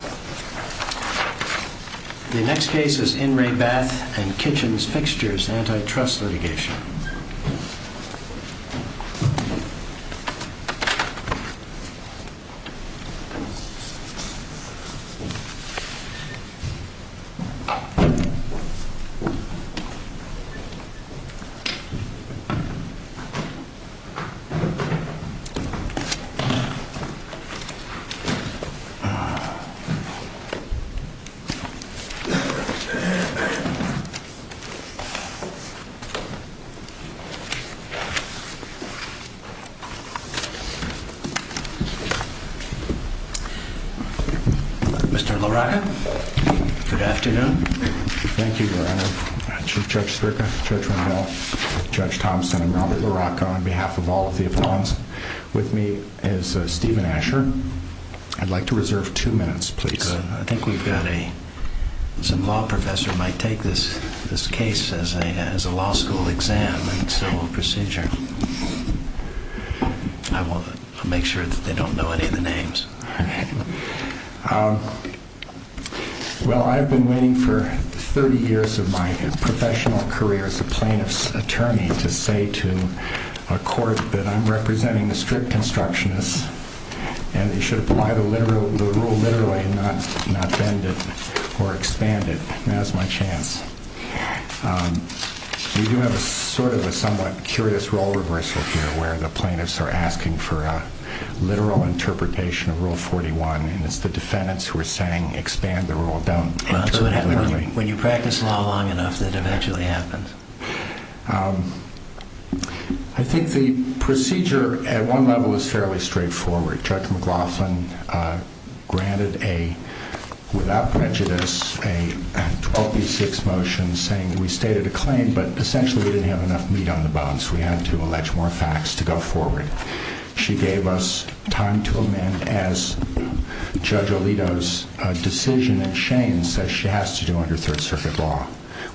The next case is In Re Bath and Kitchens Fixtures, antitrust litigation. The next case is In Re Bath and Kitchens Fixtures, antitrust litigation. Mr. LaRocca, good afternoon. Thank you, Your Honor. Chief Judge Strickland, Judge Rendell, Judge Thompson, and Robert LaRocca, on behalf of all of the appellants. With me is Stephen Asher. I'd like to reserve two minutes, please. I think we've got a, some law professor might take this case as a law school exam and civil procedure. I'll make sure that they don't know any of the names. Well, I've been waiting for 30 years of my professional career as a plaintiff's attorney to say to a court that I'm representing a strict constructionist and you should apply the rule literally and not bend it or expand it. Now's my chance. We do have a sort of a somewhat curious role reversal here where the plaintiffs are asking for a literal interpretation of Rule 41 and it's the defendants who are saying expand the rule, don't interpret it literally. When you practice law long enough, that eventually happens. I think the procedure at one level is fairly straightforward. Judge McLaughlin granted a, without prejudice, a 12B6 motion saying that we stated a claim, but essentially we didn't have enough meat on the bones. We had to allege more facts to go forward. She gave us time to amend as Judge Alito's decision in Shane says she has to do under Third Circuit law,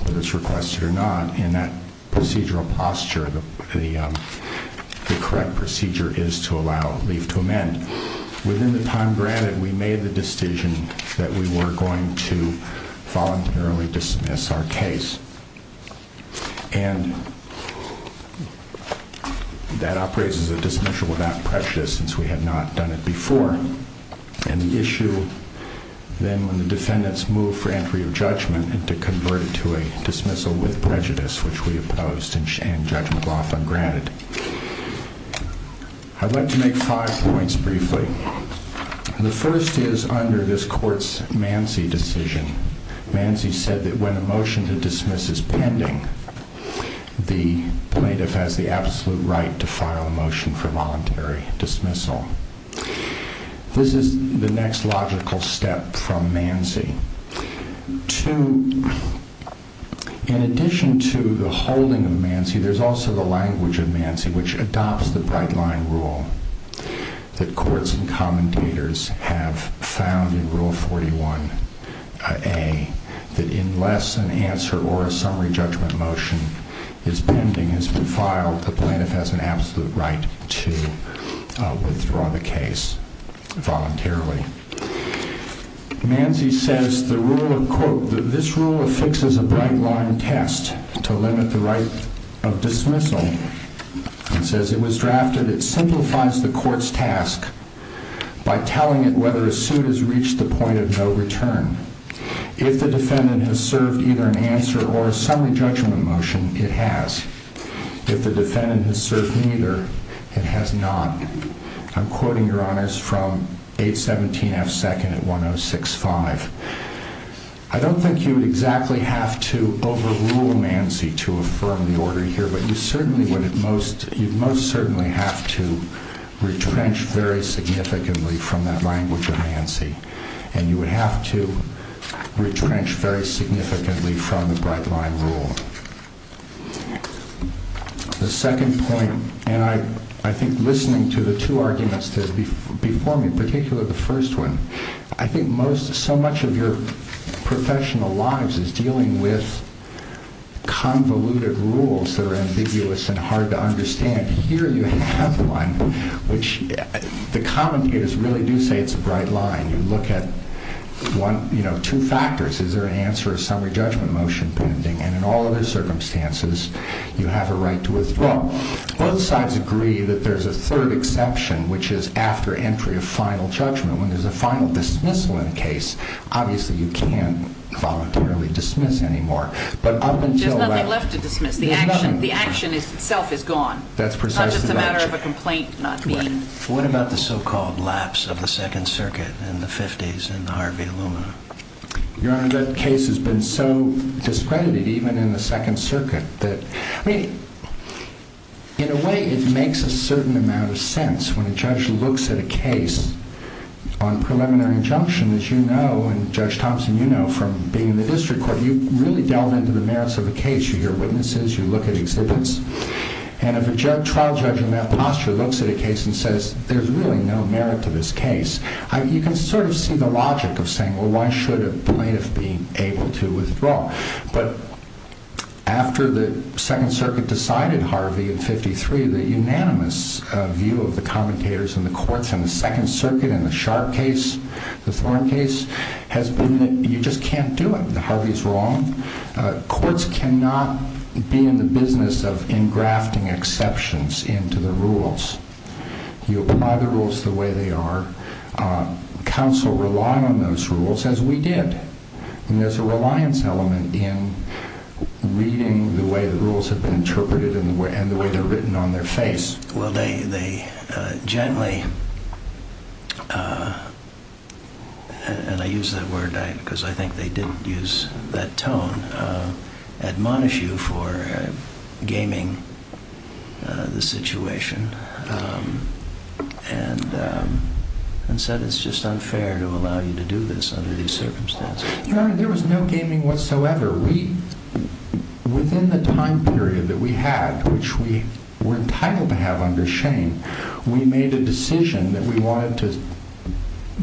whether it's requested or not, and that procedural posture, the correct procedure is to allow, leave to amend. Within the time granted, we made the decision that we were going to voluntarily dismiss our case. And that operates as a dismissal without prejudice since we had not done it before. And the issue then when the defendants move for entry of judgment and to convert it to a dismissal with prejudice, which we opposed and Judge McLaughlin granted. I'd like to make five points briefly. The first is under this court's Mancey decision, Mancey said that when a motion to dismiss is pending, the plaintiff has the absolute right to file a motion for voluntary dismissal. This is the next logical step from Mancey. Two, in addition to the holding of Mancey, there's also the language of Mancey which adopts the bright line rule that courts and commentators have found in Rule 41A that unless an answer or a summary judgment motion is pending, has been filed, the plaintiff has an absolute right to withdraw the case voluntarily. Mancey says the rule of court, this rule affixes a bright line test to limit the right of dismissal. It says it was drafted, it simplifies the court's task by telling it whether a suit has reached the point of no return. If the defendant has served either an answer or a summary judgment motion, it has. If the defendant has served neither, it has not. I'm quoting your honors from 817F2 at 1065. I don't think you would exactly have to overrule Mancey to affirm the order here, but you most certainly would have to retrench very significantly from that language of Mancey, and you would have to retrench very significantly from the bright line rule. The second point, and I think listening to the two arguments before me, particularly the first one, I think so much of your professional lives is dealing with convoluted rules that are ambiguous and hard to understand. Here you have one which the commentators really do say it's a bright line. You look at two factors. Is there an answer or a summary judgment motion pending? And in all other circumstances, you have a right to withdraw. Both sides agree that there's a third exception, which is after entry of final judgment. When there's a final dismissal in a case, obviously you can't voluntarily dismiss anymore. There's nothing left to dismiss. The action itself is gone. That's precisely right. It's not just a matter of a complaint not being. What about the so-called lapse of the Second Circuit in the 50s in Harvey Illumina? Your Honor, that case has been so discredited, even in the Second Circuit, that in a way it makes a certain amount of sense when a judge looks at a case on preliminary injunction, as you know, and Judge Thompson, you know, from being in the district court, you really delve into the merits of a case. You hear witnesses. You look at exhibits. And if a trial judge in that posture looks at a case and says, there's really no merit to this case, you can sort of see the logic of saying, well, why should a plaintiff be able to withdraw? But after the Second Circuit decided Harvey in 53, the unanimous view of the commentators in the courts in the Second Circuit in the Sharp case, the Thorn case, has been that you just can't do it. Harvey is wrong. Courts cannot be in the business of engrafting exceptions into the rules. You apply the rules the way they are. Counsel rely on those rules, as we did. And there's a reliance element in reading the way the rules have been interpreted and the way they're written on their face. Well, they gently, and I use that word because I think they did use that tone, admonish you for gaming the situation and said it's just unfair to allow you to do this under these circumstances. There was no gaming whatsoever. Within the time period that we had, which we were entitled to have under Shane, we made a decision that we wanted to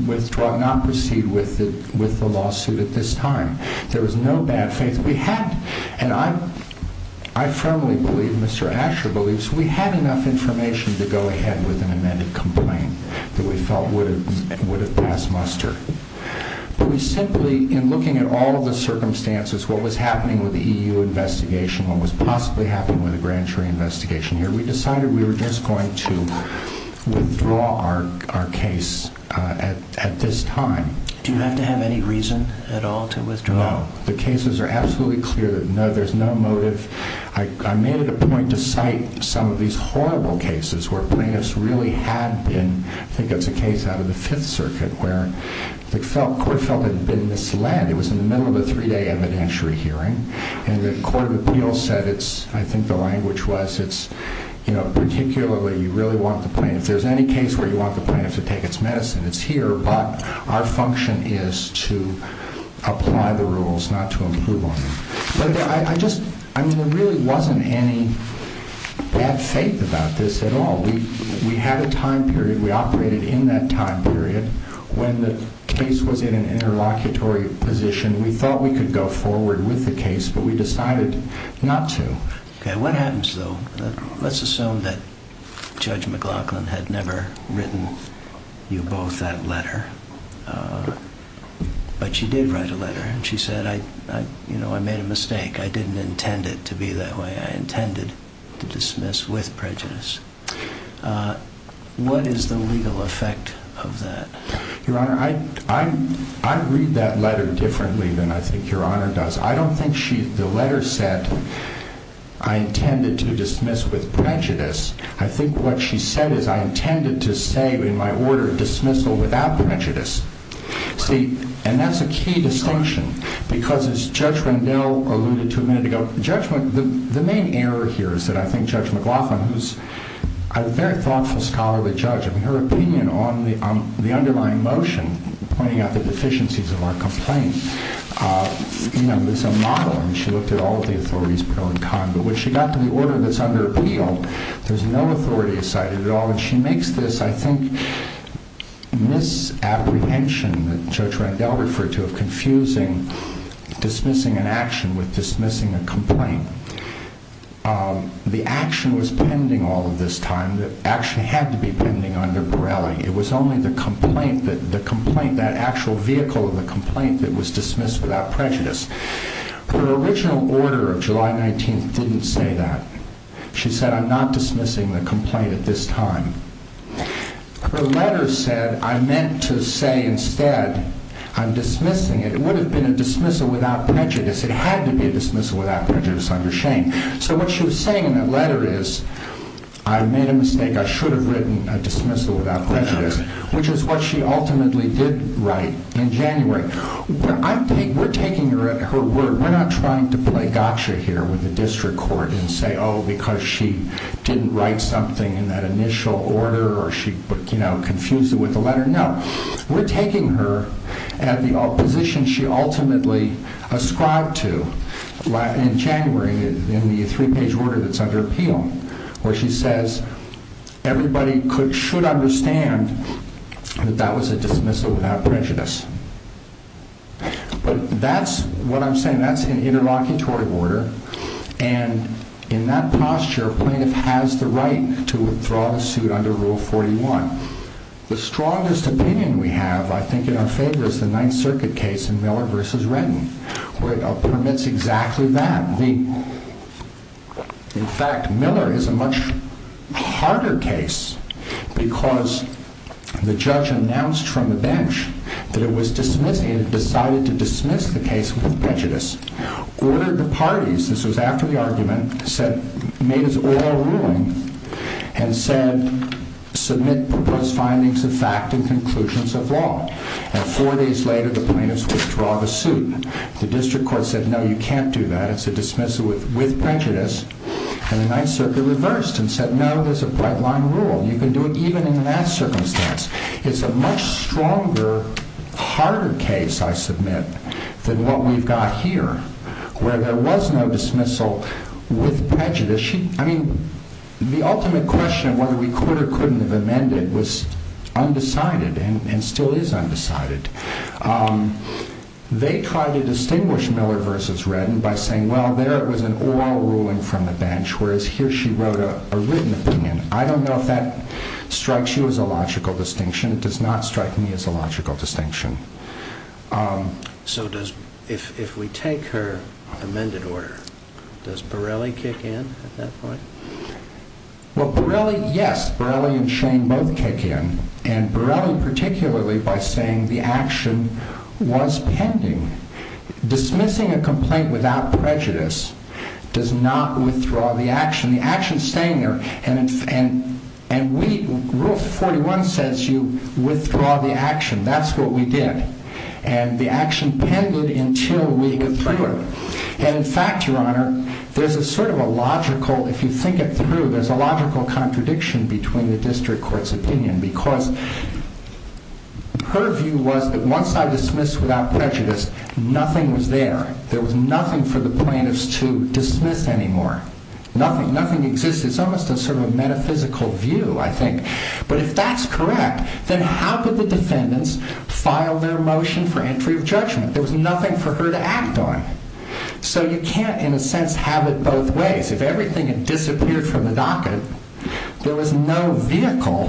withdraw, not proceed with the lawsuit at this time. There was no bad faith. We had, and I firmly believe, Mr. Asher believes, we had enough information to go ahead with an amended complaint that we felt would have passed muster. But we simply, in looking at all of the circumstances, what was happening with the EU investigation, what was possibly happening with the grand jury investigation here, we decided we were just going to withdraw our case at this time. Do you have to have any reason at all to withdraw? No. The cases are absolutely clear that no, there's no motive. I made it a point to cite some of these horrible cases where plaintiffs really had been, I think it's a case out of the Fifth Circuit, where the court felt it had been misled. It was in the middle of a three-day evidentiary hearing, and the court of appeals said, I think the language was, particularly you really want the plaintiffs, if there's any case where you want the plaintiffs to take its medicine, it's here, but our function is to apply the rules, not to improve on them. But I just, I mean, there really wasn't any bad faith about this at all. We had a time period. We operated in that time period. When the case was in an interlocutory position, we thought we could go forward with the case, but we decided not to. Okay. What happens, though? Let's assume that Judge McLaughlin had never written you both that letter, but she did write a letter, and she said, you know, I made a mistake. I didn't intend it to be that way. I intended to dismiss with prejudice. What is the legal effect of that? Your Honor, I read that letter differently than I think Your Honor does. I don't think the letter said, I intended to dismiss with prejudice. I think what she said is, I intended to say in my order, dismissal without prejudice. See, and that's a key distinction, because as Judge Rendell alluded to a minute ago, the main error here is that I think Judge McLaughlin, who's a very thoughtful scholarly judge, her opinion on the underlying motion, pointing out the deficiencies of our complaint, you know, is a model, and she looked at all of the authorities, but when she got to the order that's under appeal, there's no authority cited at all, and she makes this, I think, misapprehension that Judge Rendell referred to, of confusing dismissing an action with dismissing a complaint. The action was pending all of this time. The action had to be pending under Pirelli. It was only the complaint, that actual vehicle of the complaint that was dismissed without prejudice. Her original order of July 19th didn't say that. She said, I'm not dismissing the complaint at this time. Her letter said, I meant to say instead, I'm dismissing it. It would have been a dismissal without prejudice. It had to be a dismissal without prejudice under Shane. So what she was saying in that letter is, I made a mistake. I should have written a dismissal without prejudice, which is what she ultimately did write in January. We're taking her word. We're not trying to play gotcha here with the district court and say, oh, because she didn't write something in that initial order or she confused it with the letter. No. We're taking her at the position she ultimately ascribed to in January in the three-page order that's under appeal, where she says everybody should understand that that was a dismissal without prejudice. But that's what I'm saying. That's an interlocutory order. And in that posture, a plaintiff has the right to withdraw the suit under Rule 41. The strongest opinion we have, I think, in our favor is the Ninth Circuit case in Miller v. Redden, where it permits exactly that. In fact, Miller is a much harder case because the judge announced from the bench that it was dismissing it and decided to dismiss the case without prejudice, ordered the parties, this was after the argument, made his oral ruling and said, submit proposed findings of fact and conclusions of law. And four days later, the plaintiffs withdraw the suit. The district court said, no, you can't do that. That's a dismissal with prejudice. And the Ninth Circuit reversed and said, no, there's a bright-line rule. You can do it even in that circumstance. It's a much stronger, harder case, I submit, than what we've got here, where there was no dismissal with prejudice. I mean, the ultimate question of whether we could or couldn't have amended was undecided and still is undecided. They tried to distinguish Miller v. Redden by saying, well, there it was an oral ruling from the bench, whereas here she wrote a written opinion. I don't know if that strikes you as a logical distinction. It does not strike me as a logical distinction. So if we take her amended order, does Borelli kick in at that point? Well, Borelli, yes, Borelli and Shane both kick in. And Borelli particularly by saying the action was pending. Dismissing a complaint without prejudice does not withdraw the action. The action is staying there. And Rule 41 says you withdraw the action. That's what we did. And the action pended until we got through it. And in fact, Your Honor, there's a sort of a logical, if you think it through, there's a logical contradiction between the district court's opinion. Because her view was that once I dismiss without prejudice, nothing was there. There was nothing for the plaintiffs to dismiss anymore. Nothing. Nothing exists. It's almost a sort of metaphysical view, I think. But if that's correct, then how could the defendants file their motion for entry of judgment? There was nothing for her to act on. So you can't, in a sense, have it both ways. If everything had disappeared from the docket, there was no vehicle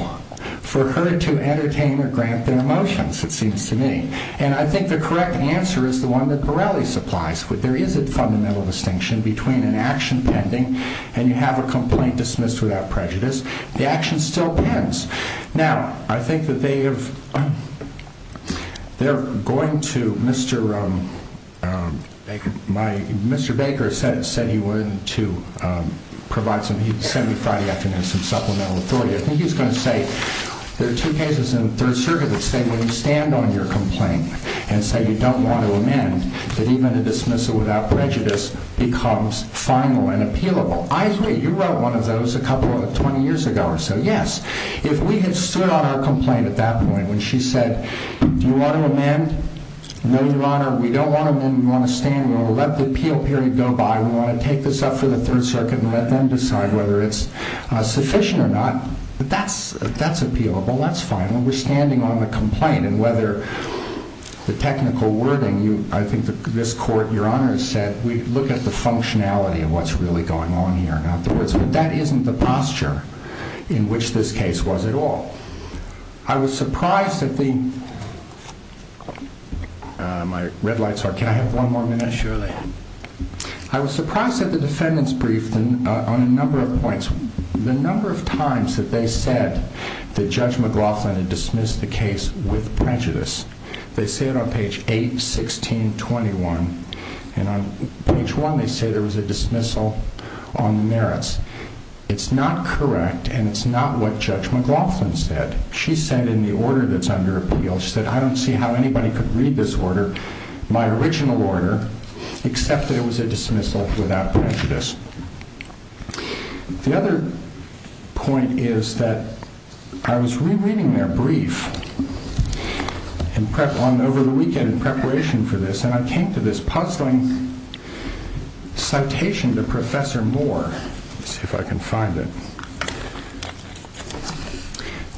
for her to entertain or grant their motions, it seems to me. And I think the correct answer is the one that Borelli supplies. There is a fundamental distinction between an action pending and you have a complaint dismissed without prejudice. The action still pens. Now, I think that they have, they're going to Mr. Baker, Mr. Baker said he wanted to provide some, he sent me Friday afternoon some supplemental authority. I think he was going to say, there are two cases in the Third Circuit that say when you stand on your complaint and say you don't want to amend, that even a dismissal without prejudice becomes final and appealable. I agree. You wrote one of those a couple, 20 years ago or so. Yes. If we had stood on our complaint at that point when she said, do you want to amend? No, Your Honor. We don't want to amend. We want to stand. We want to let the appeal period go by. We want to take this up for the Third Circuit and let them decide whether it's sufficient or not. That's appealable. That's fine. When we're standing on the complaint and whether the technical wording, I think this court, Your Honor, said, we look at the functionality of what's really going on here. That isn't the posture in which this case was at all. I was surprised that the My red light's out. Can I have one more minute? Sure thing. I was surprised that the defendants briefed on a number of points. The number of times that they said that Judge McLaughlin had dismissed the case with prejudice, they say it on page 8, 16, 21, and on page 1 they say there was a dismissal on the merits. It's not correct, and it's not what Judge McLaughlin said. She said in the order that's under appeal, she said I don't see how anybody could read this order, my original order, except that it was a dismissal without prejudice. The other point is that I was rereading their brief over the weekend in preparation for this, and I came to this puzzling citation to Professor Moore. Let's see if I can find it.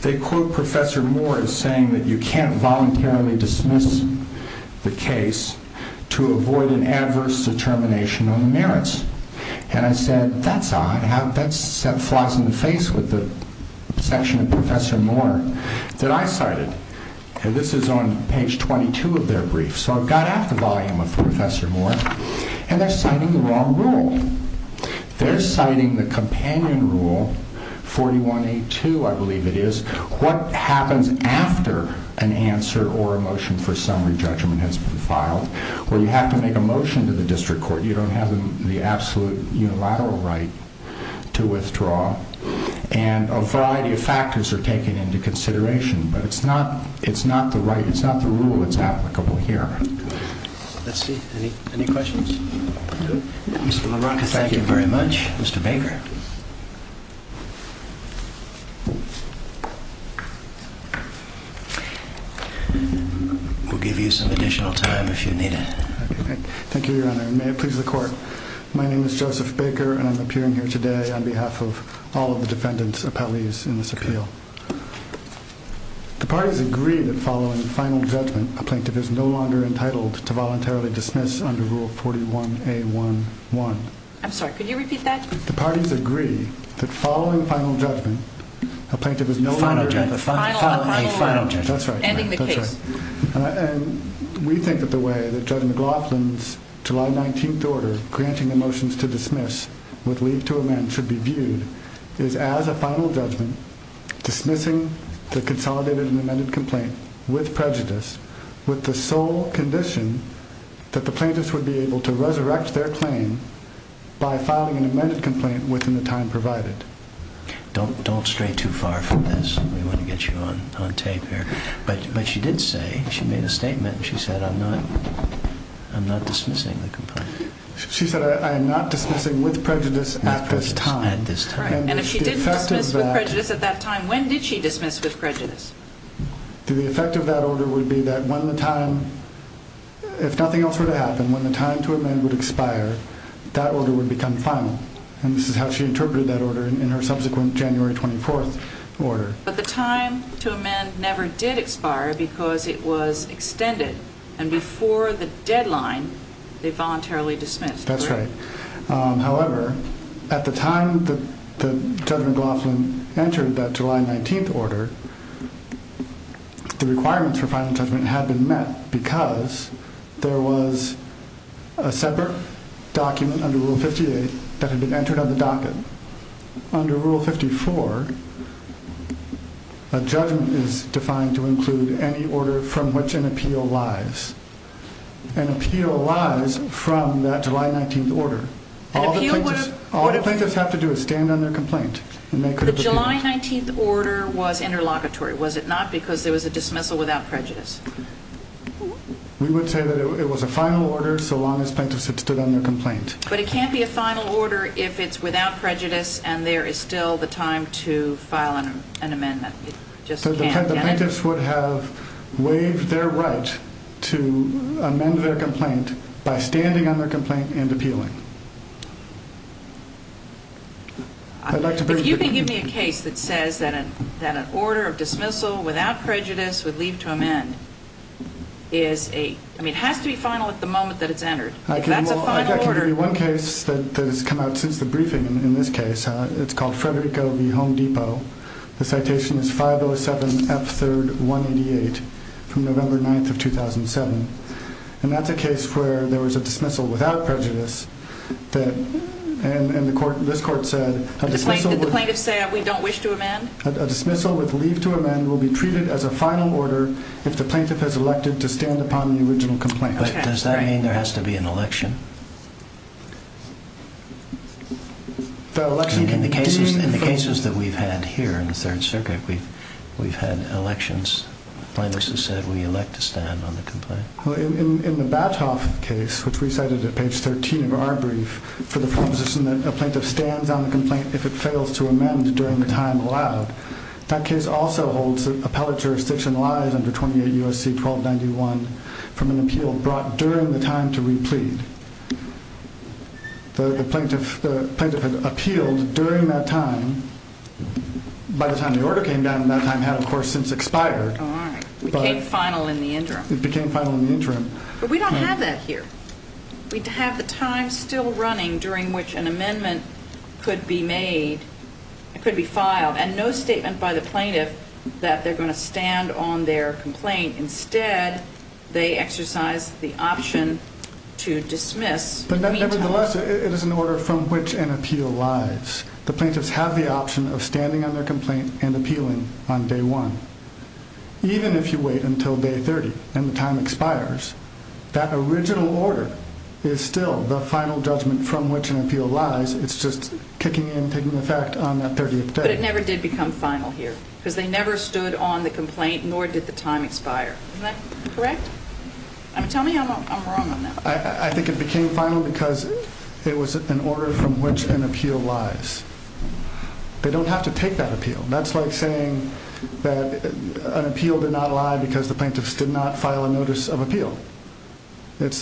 They quote Professor Moore as saying that you can't voluntarily dismiss the case to avoid an adverse determination on the merits. And I said, that's odd. That flies in the face with the section of Professor Moore that I cited. And this is on page 22 of their brief. So I've got out the volume of Professor Moore, and they're citing the wrong rule. They're citing the companion rule, 4182, I believe it is, what happens after an answer or a motion for summary judgment has been filed, where you have to make a motion to the district court, you don't have the absolute unilateral right to withdraw, and a variety of factors are taken into consideration, but it's not the right, it's not the rule that's applicable here. Let's see, any questions? Mr. LaRocca, thank you very much. Mr. Baker. We'll give you some additional time if you need it. Thank you, Your Honor, and may it please the court. My name is Joseph Baker, and I'm appearing here today on behalf of all of the defendant's appellees in this appeal. The parties agree that following final judgment, a plaintiff is no longer entitled to voluntarily dismiss under Rule 41A11. I'm sorry, could you repeat that? The parties agree that following final judgment, a plaintiff is no longer entitled to final judgment. Final judgment. That's right. Ending the case. And we think that the way that Judge McLaughlin's July 19th order, granting the motions to dismiss would lead to amend should be viewed is as a final judgment dismissing the consolidated and amended complaint with prejudice with the sole condition that the plaintiffs would be able to resurrect their claim by filing an amended complaint within the time provided. Don't stray too far from this. We want to get you on tape here. But she did say, she made a statement, and she said, I'm not dismissing the complaint. She said, I am not dismissing with prejudice at this time. And if she did dismiss with prejudice at that time, when did she dismiss with prejudice? The effect of that order would be that when the time, if nothing else were to happen, when the time to amend would expire, that order would become final. And this is how she interpreted that order in her subsequent January 24th order. But the time to amend never did expire because it was extended. And before the deadline, they voluntarily dismissed. That's right. However, at the time that Judge McLaughlin entered that July 19th order, the requirements for final judgment had been met because there was a separate Under Rule 54, a judgment is defined to include any order from which an appeal lies. An appeal lies from that July 19th order. All the plaintiffs have to do is stand on their complaint. The July 19th order was interlocutory, was it not? Because there was a dismissal without prejudice. We would say that it was a final order so long as plaintiffs had stood on their complaint. But it can't be a final order if it's without prejudice and there is still the time to file an amendment. The plaintiffs would have waived their right to amend their complaint by standing on their complaint and appealing. If you can give me a case that says that an order of dismissal without prejudice would leave to amend, it has to be final at the moment that it's entered. That's a final order. I can give you one case that has come out since the briefing in this case. It's called Frederick Govee Home Depot. The citation is 507F3188 from November 9th of 2007. And that's a case where there was a dismissal without prejudice and this court said a dismissal with leave to amend will be treated as a final order if the plaintiff has elected to stand upon the original complaint. But does that mean there has to be an election? In the cases that we've had here in the Third Circuit, we've had elections. Plaintiffs have said we elect to stand on the complaint. In the Bathoff case, which we cited at page 13 of our brief, for the proposition that a plaintiff stands on the complaint if it fails to amend during the time allowed, that case also holds that appellate jurisdiction lies under 28 U.S.C. 1291 from an appeal brought during the time to replead. The plaintiff appealed during that time. By the time the order came down, that time had, of course, since expired. All right. It became final in the interim. It became final in the interim. But we don't have that here. We have the time still running during which an amendment could be made, could be filed, and no statement by the plaintiff that they're going to stand on their complaint. Instead, they exercise the option to dismiss. But nevertheless, it is an order from which an appeal lies. The plaintiffs have the option of standing on their complaint and appealing on day one. Even if you wait until day 30 and the time expires, that original order is still the final judgment from which an appeal lies. It's just kicking in, taking effect on that 30th day. But it never did become final here because they never stood on the complaint, nor did the time expire. Is that correct? Tell me I'm wrong on that. I think it became final because it was an order from which an appeal lies. They don't have to take that appeal. That's like saying that an appeal did not lie because the plaintiffs did not file a notice of appeal. It's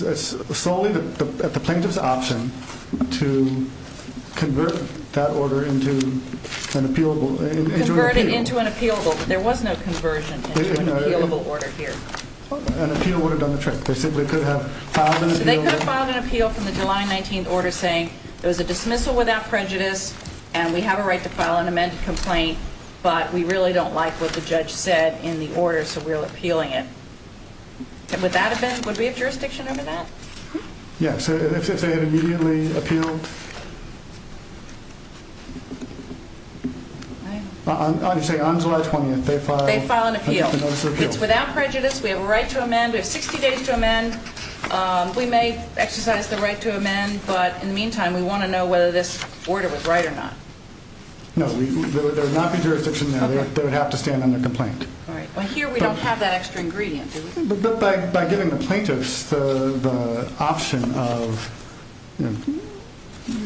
solely at the plaintiff's option to convert that order into an appealable, Converted into an appealable. There was no conversion into an appealable order here. An appeal would have done the trick. They simply could have filed an appeal. They could have filed an appeal from the July 19th order saying it was a dismissal without prejudice and we have a right to file an amended complaint, but we really don't like what the judge said in the order, so we're appealing it. Would we have jurisdiction over that? Yes, if they had immediately appealed. On July 20th, they file an appeal. It's without prejudice. We have a right to amend. We have 60 days to amend. We may exercise the right to amend, but in the meantime, we want to know whether this order was right or not. No, there would not be jurisdiction there. They would have to stand on their complaint. Well, here we don't have that extra ingredient. But by giving the plaintiffs the option of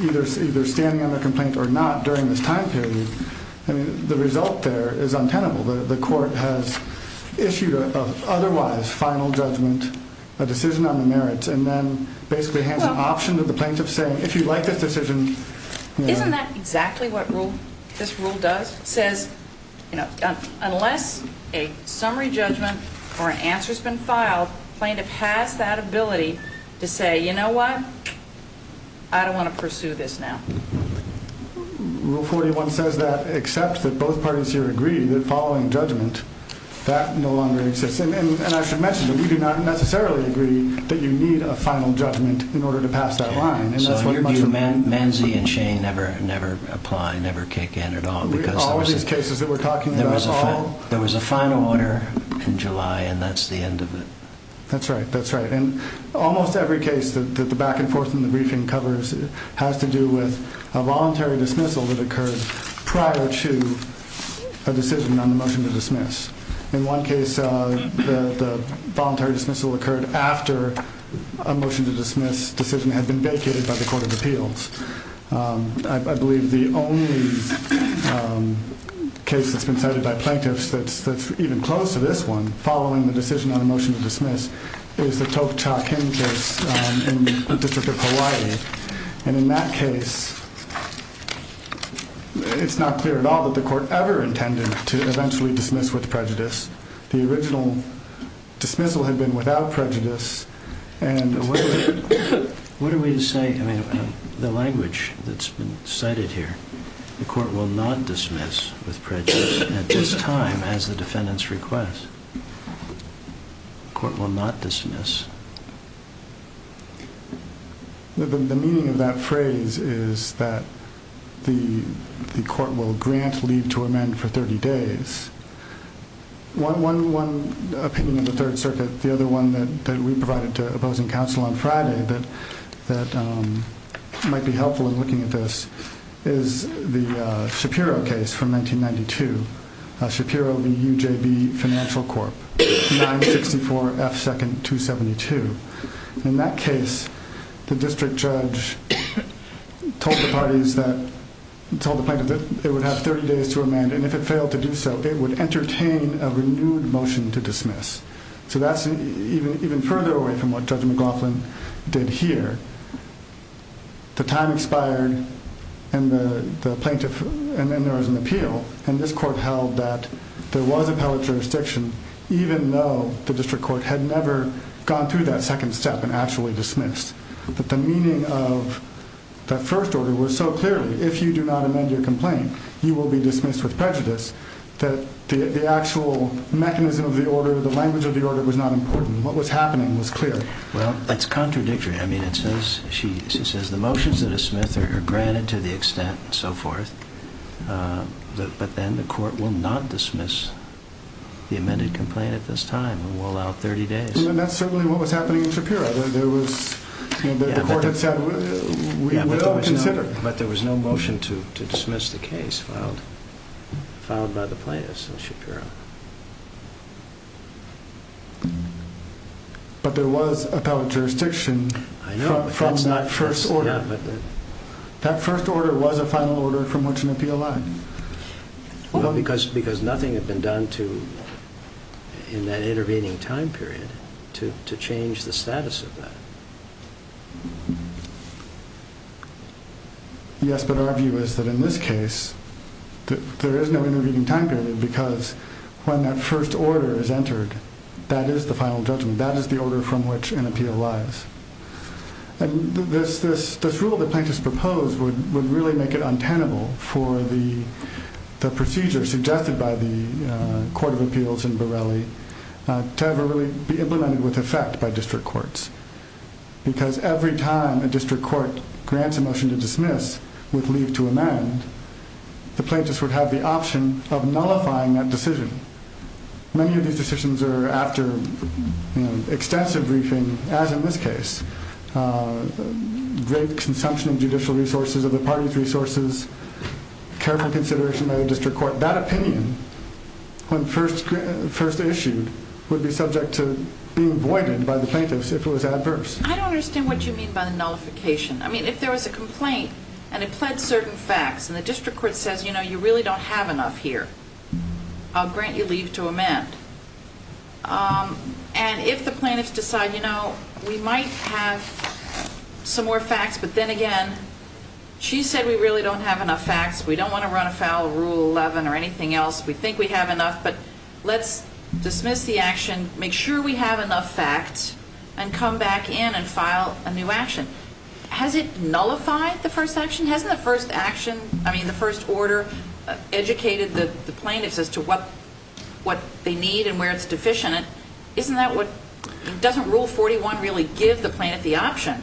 either standing on their complaint or not during this time period, the result there is untenable. The court has issued an otherwise final judgment, a decision on the merits, and then basically hands an option to the plaintiff saying, if you like this decision. Isn't that exactly what this rule does? It says unless a summary judgment or an answer has been filed, the plaintiff has that ability to say, you know what? I don't want to pursue this now. Rule 41 says that except that both parties here agree that following judgment, that no longer exists. And I should mention that we do not necessarily agree that you need a final judgment in order to pass that line. Manzy and Shane never apply, never kick in at all. All of these cases that we're talking about, all of them. There was a final order in July, and that's the end of it. That's right. That's right. And almost every case that the back and forth in the briefing covers has to do with a voluntary dismissal that occurred prior to a decision on the motion to dismiss. In one case, the voluntary dismissal occurred after a motion to dismiss decision had been vacated by the Court of Appeals. I believe the only case that's been cited by plaintiffs that's even close to this one, following the decision on a motion to dismiss, is the Toka Cha Kim case in the District of Hawaii. And in that case, it's not clear at all that the Court ever intended to eventually dismiss with prejudice. The original dismissal had been without prejudice. And what are we to say? I mean, the language that's been cited here, the court will not dismiss with prejudice at this time as the defendant's request. The court will not dismiss. The meaning of that phrase is that the court will grant leave to amend for 30 days. One opinion of the Third Circuit, the other one that we provided to opposing counsel on Friday that might be helpful in looking at this is the Shapiro case from 1992. Shapiro v. UJB Financial Corp., 964 F. 2nd 272. In that case, the district judge told the plaintiff that it would have 30 days to amend, and if it failed to do so, it would entertain a renewed motion to dismiss. So that's even further away from what Judge McLaughlin did here. The time expired, and then there was an appeal, and this court held that there was appellate jurisdiction, even though the district court had never gone through that second step and actually dismissed. But the meaning of that first order was so clearly, if you do not amend your complaint, you will be dismissed with prejudice, that the actual mechanism of the order, the language of the order was not important. What was happening was clear. Well, that's contradictory. I mean, she says the motions that are dismissed are granted to the extent and so forth, but then the court will not dismiss the amended complaint at this time and will allow 30 days. And that's certainly what was happening in Shapiro. The court had said, we will consider. But there was no motion to dismiss the case filed by the plaintiffs in Shapiro. But there was appellate jurisdiction from that first order. That first order was a final order from which an appeal lied. Well, because nothing had been done in that intervening time period to change the status of that. Yes, but our view is that in this case, there is no intervening time period because when that first order is entered, that is the final judgment. That is the order from which an appeal lies. And this rule that plaintiffs proposed would really make it untenable for the procedure suggested by the Court of Appeals in Borrelli to ever really be implemented with effect by district courts. Because every time a district court grants a motion to dismiss with leave to amend, the plaintiffs would have the option of nullifying that decision. Many of these decisions are after extensive briefing, as in this case. Great consumption of judicial resources or the party's resources, careful consideration by the district court. That opinion, when first issued, would be subject to being voided by the plaintiffs if it was adverse. I don't understand what you mean by the nullification. I mean, if there was a complaint and it pled certain facts, and the district court says, you know, you really don't have enough here, I'll grant you leave to amend. And if the plaintiffs decide, you know, we might have some more facts, but then again, she said we really don't have enough facts. We don't want to run afoul of Rule 11 or anything else. We think we have enough, but let's dismiss the action, make sure we have enough facts, and come back in and file a new action. Has it nullified the first action? Hasn't the first order educated the plaintiffs as to what they need and where it's deficient? Doesn't Rule 41 really give the plaintiff the option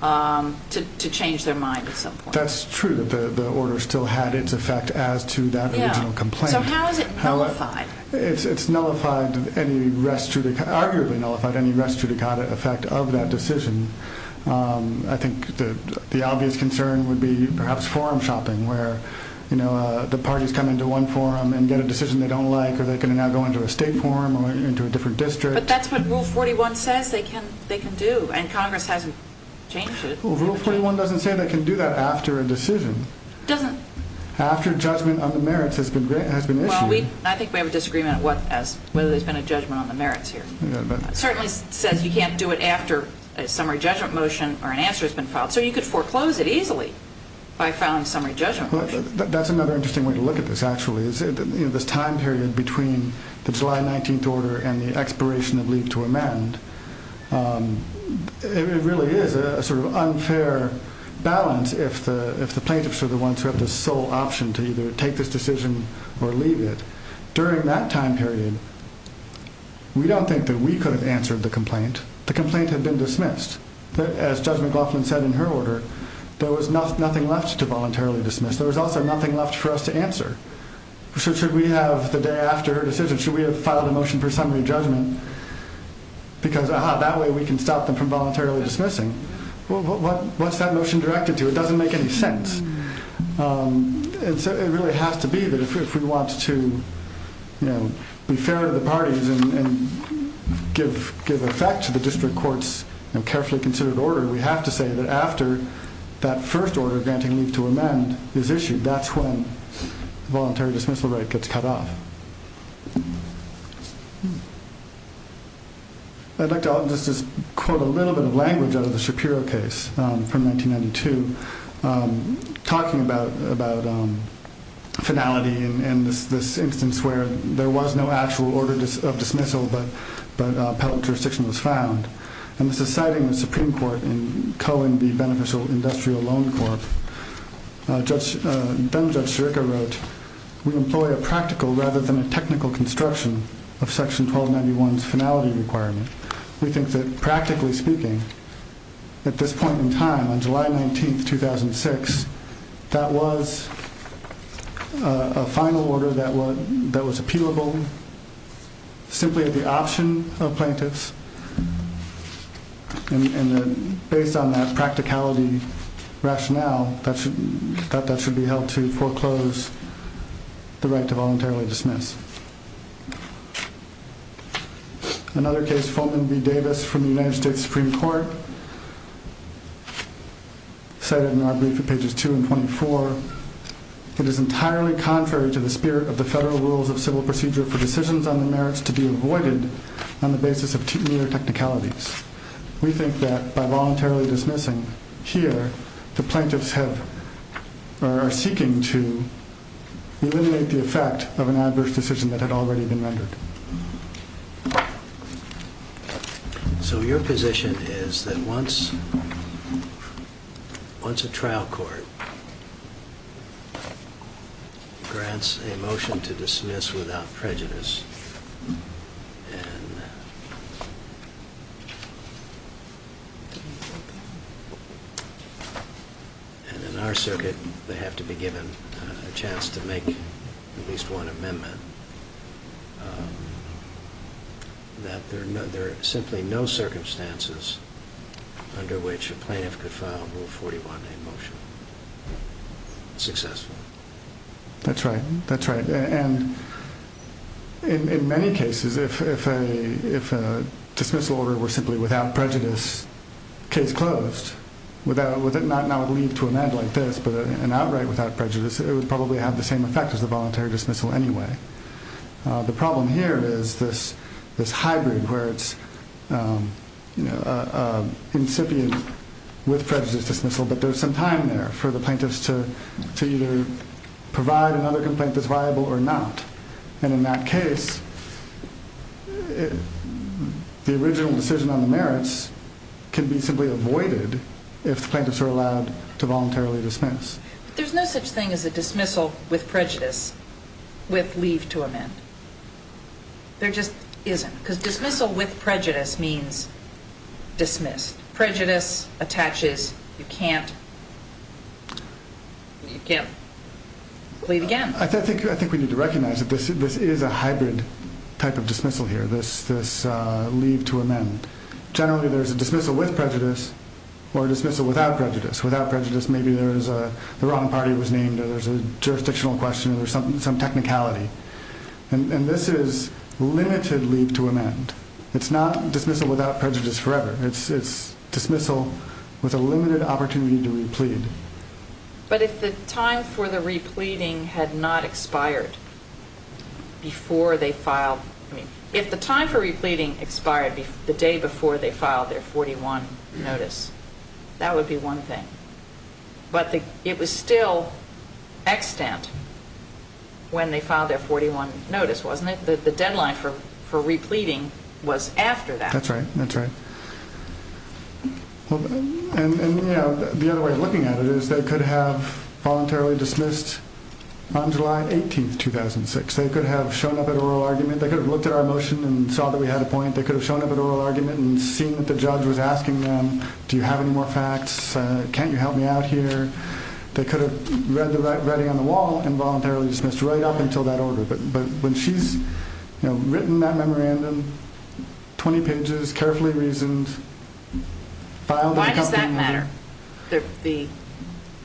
to change their mind at some point? That's true that the order still had its effect as to that original complaint. So how is it nullified? It's nullified, arguably nullified, any res judicata effect of that decision. I think the obvious concern would be perhaps forum shopping, where, you know, the parties come into one forum and get a decision they don't like, or they can now go into a state forum or into a different district. But that's what Rule 41 says they can do, and Congress hasn't changed it. Rule 41 doesn't say they can do that after a decision. After judgment on the merits has been issued. I think we have a disagreement as to whether there's been a judgment on the merits here. It certainly says you can't do it after a summary judgment motion or an answer has been filed. So you could foreclose it easily by filing a summary judgment motion. That's another interesting way to look at this, actually, is this time period between the July 19th order and the expiration of leave to amend. It really is a sort of unfair balance if the plaintiffs are the ones who have the sole option to either take this decision or leave it. During that time period, we don't think that we could have answered the complaint. The complaint had been dismissed. As Judge McLaughlin said in her order, there was nothing left to voluntarily dismiss. There was also nothing left for us to answer. Should we have the day after her decision, should we have filed a motion for summary judgment? Because that way we can stop them from voluntarily dismissing. What's that motion directed to? It doesn't make any sense. It really has to be that if we want to be fair to the parties and give effect to the district court's carefully considered order, we have to say that after that first order granting leave to amend is issued, that's when the voluntary dismissal right gets cut off. I'd like to just quote a little bit of language out of the Shapiro case from 1992, talking about finality and this instance where there was no actual order of dismissal but appellate jurisdiction was found. This is citing the Supreme Court in culling the Beneficial Industrial Loan Corp. Ben Judge-Sherika wrote, we employ a practical rather than a technical construction of Section 1291's finality requirement. We think that practically speaking, at this point in time, on July 19, 2006, that was a final order that was appealable simply at the option of plaintiffs and based on that practicality rationale, that should be held to foreclose the right to voluntarily dismiss. Another case, Fulton v. Davis from the United States Supreme Court, cited in our brief at pages 2 and 24, it is entirely contrary to the spirit of the Federal Rules of Civil Procedure for decisions on the merits to be avoided on the basis of mere technicalities. We think that by voluntarily dismissing here, the plaintiffs are seeking to eliminate the effect of an adverse decision that had already been rendered. So your position is that once a trial court grants a motion to dismiss without prejudice, and in our circuit they have to be given a chance to make at least one amendment, that there are simply no circumstances under which a plaintiff could file a Rule 41A motion successfully? That's right. In many cases, if a dismissal order were simply without prejudice, case closed, not with a leave to amend like this, but an outright without prejudice, it would probably have the same effect as the voluntary dismissal anyway. The problem here is this hybrid where it's incipient with prejudice dismissal, but there's some time there for the plaintiffs to either provide another complaint that's viable or not. And in that case, the original decision on the merits can be simply avoided if the plaintiffs are allowed to voluntarily dismiss. There's no such thing as a dismissal with prejudice with leave to amend. There just isn't. Because dismissal with prejudice means dismissed. If prejudice attaches, you can't leave again. I think we need to recognize that this is a hybrid type of dismissal here, this leave to amend. Generally, there's a dismissal with prejudice or a dismissal without prejudice. Without prejudice, maybe the wrong party was named or there's a jurisdictional question or some technicality. And this is limited leave to amend. It's not dismissal without prejudice forever. It's dismissal with a limited opportunity to replead. But if the time for the repleading had not expired before they filed, I mean, if the time for repleading expired the day before they filed their 41 notice, that would be one thing. But it was still extant when they filed their 41 notice, wasn't it? The deadline for repleading was after that. That's right. That's right. And, you know, the other way of looking at it is they could have voluntarily dismissed on July 18, 2006. They could have shown up at oral argument. They could have looked at our motion and saw that we had a point. They could have shown up at oral argument and seen that the judge was asking them, do you have any more facts? Can't you help me out here? They could have read the writing on the wall and voluntarily dismissed right up until that order. But when she's, you know, written that memorandum, 20 pages, carefully reasoned. Why does that matter, the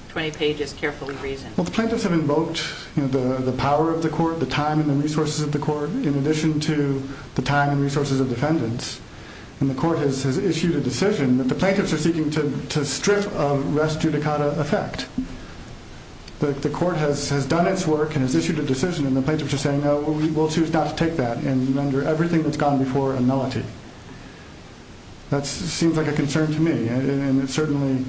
20 pages carefully reasoned? Well, the plaintiffs have invoked, you know, the power of the court, the time and the resources of the court, in addition to the time and resources of defendants. And the court has issued a decision that the plaintiffs are seeking to strip of rest judicata effect. The court has done its work and has issued a decision. And the plaintiffs are saying, no, we will choose not to take that. And under everything that's gone before, a nullity. That seems like a concern to me. And it certainly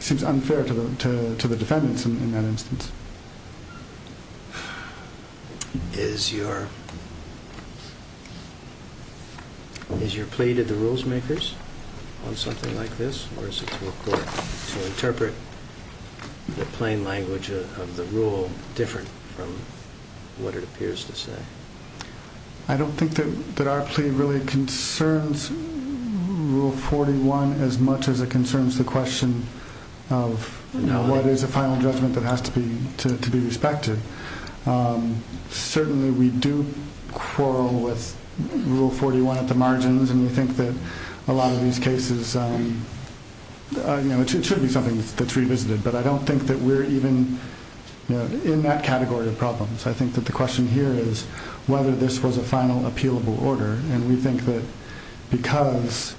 seems unfair to the defendants in that instance. Is your plea to the rules makers on something like this? Or is it to the court to interpret the plain language of the rule different from what it appears to say? I don't think that our plea really concerns Rule 41 as much as it concerns the question of, you know, what is a final judgment that has to be respected? Certainly we do quarrel with Rule 41 at the margins. And we think that a lot of these cases, you know, it should be something that's revisited. But I don't think that we're even in that category of problems. I think that the question here is whether this was a final appealable order. And we think that because,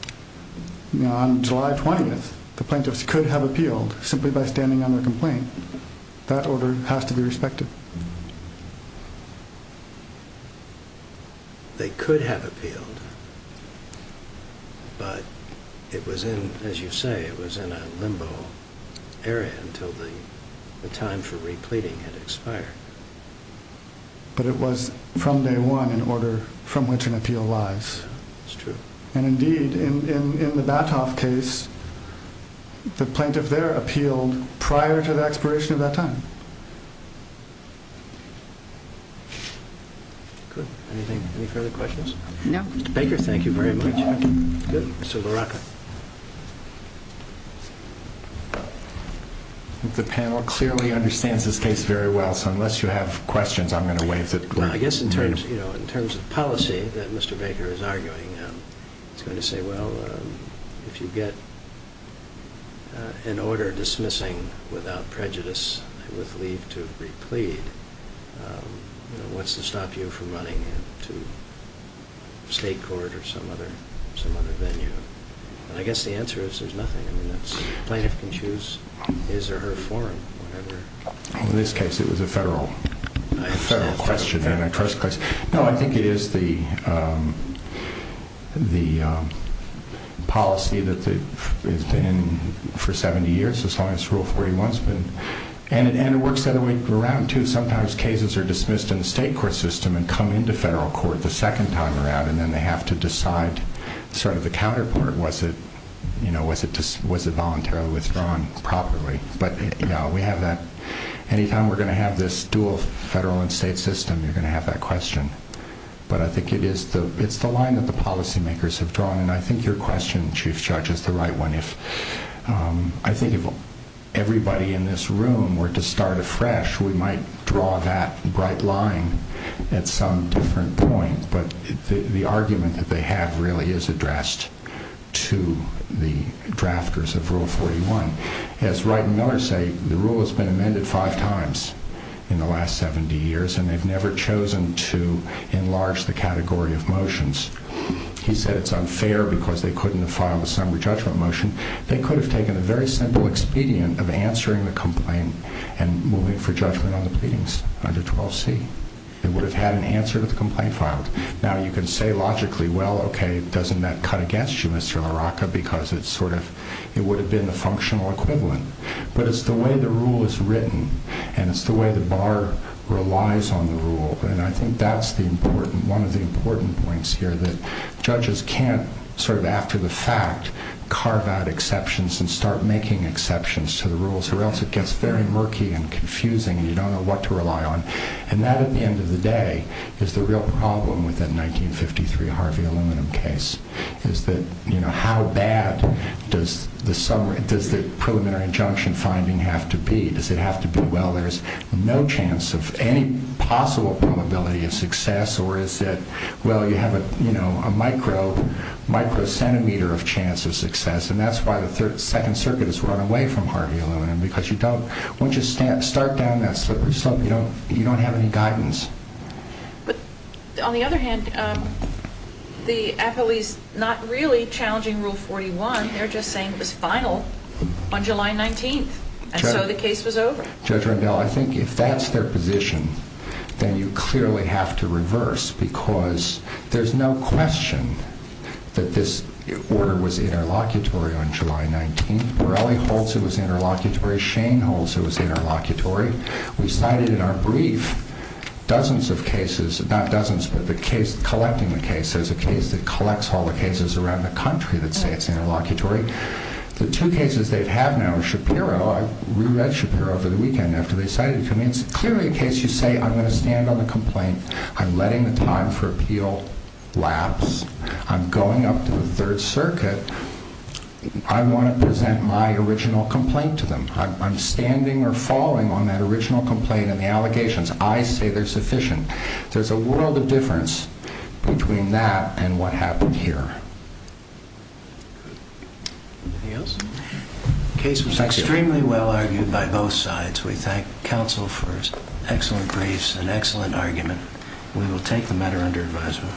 you know, on July 20th, the plaintiffs could have appealed simply by standing on their complaint. That order has to be respected. They could have appealed. But it was in, as you say, it was in a limbo area until the time for repleting had expired. But it was from day one in order from which an appeal lies. That's true. And indeed, in the Batoff case, the plaintiff there appealed prior to the expiration of that time. Good. Anything, any further questions? No. Mr. Baker, thank you very much. Good. Mr. Baraka. The panel clearly understands this case very well. So unless you have questions, I'm going to waive it. Well, I guess in terms, you know, in terms of policy that Mr. Baker is arguing, he's going to say, well, if you get an order dismissing without prejudice with leave to replete, you know, what's to stop you from running to state court or some other venue? And I guess the answer is there's nothing. I mean, the plaintiff can choose his or her forum, whatever. In this case, it was a federal question. No, I think it is the policy that has been for 70 years, as long as Rule 41 has been. And it works that way around, too. Sometimes cases are dismissed in the state court system and come into federal court the second time around, and then they have to decide sort of the counterpart. Was it, you know, was it voluntarily withdrawn properly? But, you know, we have that. Anytime we're going to have this dual federal and state system, you're going to have that question. But I think it is the line that the policymakers have drawn, and I think your question, Chief Judge, is the right one. I think if everybody in this room were to start afresh, we might draw that bright line at some different point. But the argument that they have really is addressed to the drafters of Rule 41. As Wright and Miller say, the rule has been amended five times in the last 70 years, and they've never chosen to enlarge the category of motions. He said it's unfair because they couldn't have filed a summary judgment motion. They could have taken a very simple expedient of answering the complaint and moving for judgment on the pleadings under 12C. They would have had an answer to the complaint filed. Now, you can say logically, well, okay, doesn't that cut against you, Mr. LaRocca, because it's sort of, it would have been the functional equivalent. But it's the way the rule is written, and it's the way the bar relies on the rule, and I think that's the important, one of the important points here, that judges can't sort of, after the fact, carve out exceptions and start making exceptions to the rules, or else it gets very murky and confusing, and you don't know what to rely on. And that, at the end of the day, is the real problem with that 1953 Harvey Aluminum case, is that, you know, how bad does the summary, does the preliminary injunction finding have to be? Does it have to be, well, there's no chance of any possible probability of success, or is it, well, you have a, you know, a micro-centimeter of chance of success, and that's why the Second Circuit has run away from Harvey Aluminum, because you don't, once you start down that slippery slope, you don't have any guidance. But, on the other hand, the appellees, not really challenging Rule 41, they're just saying it was final on July 19th, and so the case was over. Judge Rendell, I think if that's their position, then you clearly have to reverse, because there's no question that this order was interlocutory on July 19th. Morelli holds it was interlocutory. Shane holds it was interlocutory. We cited in our brief dozens of cases, not dozens, but the case, collecting the cases, there's a case that collects all the cases around the country that say it's interlocutory. The two cases they have now, Shapiro, I reread Shapiro over the weekend after they cited it to me, it's clearly a case you say, I'm going to stand on the complaint, I'm letting the time for appeal lapse, I'm going up to the Third Circuit, I want to present my original complaint to them. I'm standing or falling on that original complaint and the allegations. I say they're sufficient. There's a world of difference between that and what happened here. The case was extremely well argued by both sides. We thank counsel for his excellent briefs and excellent argument. We will take the matter under advisement.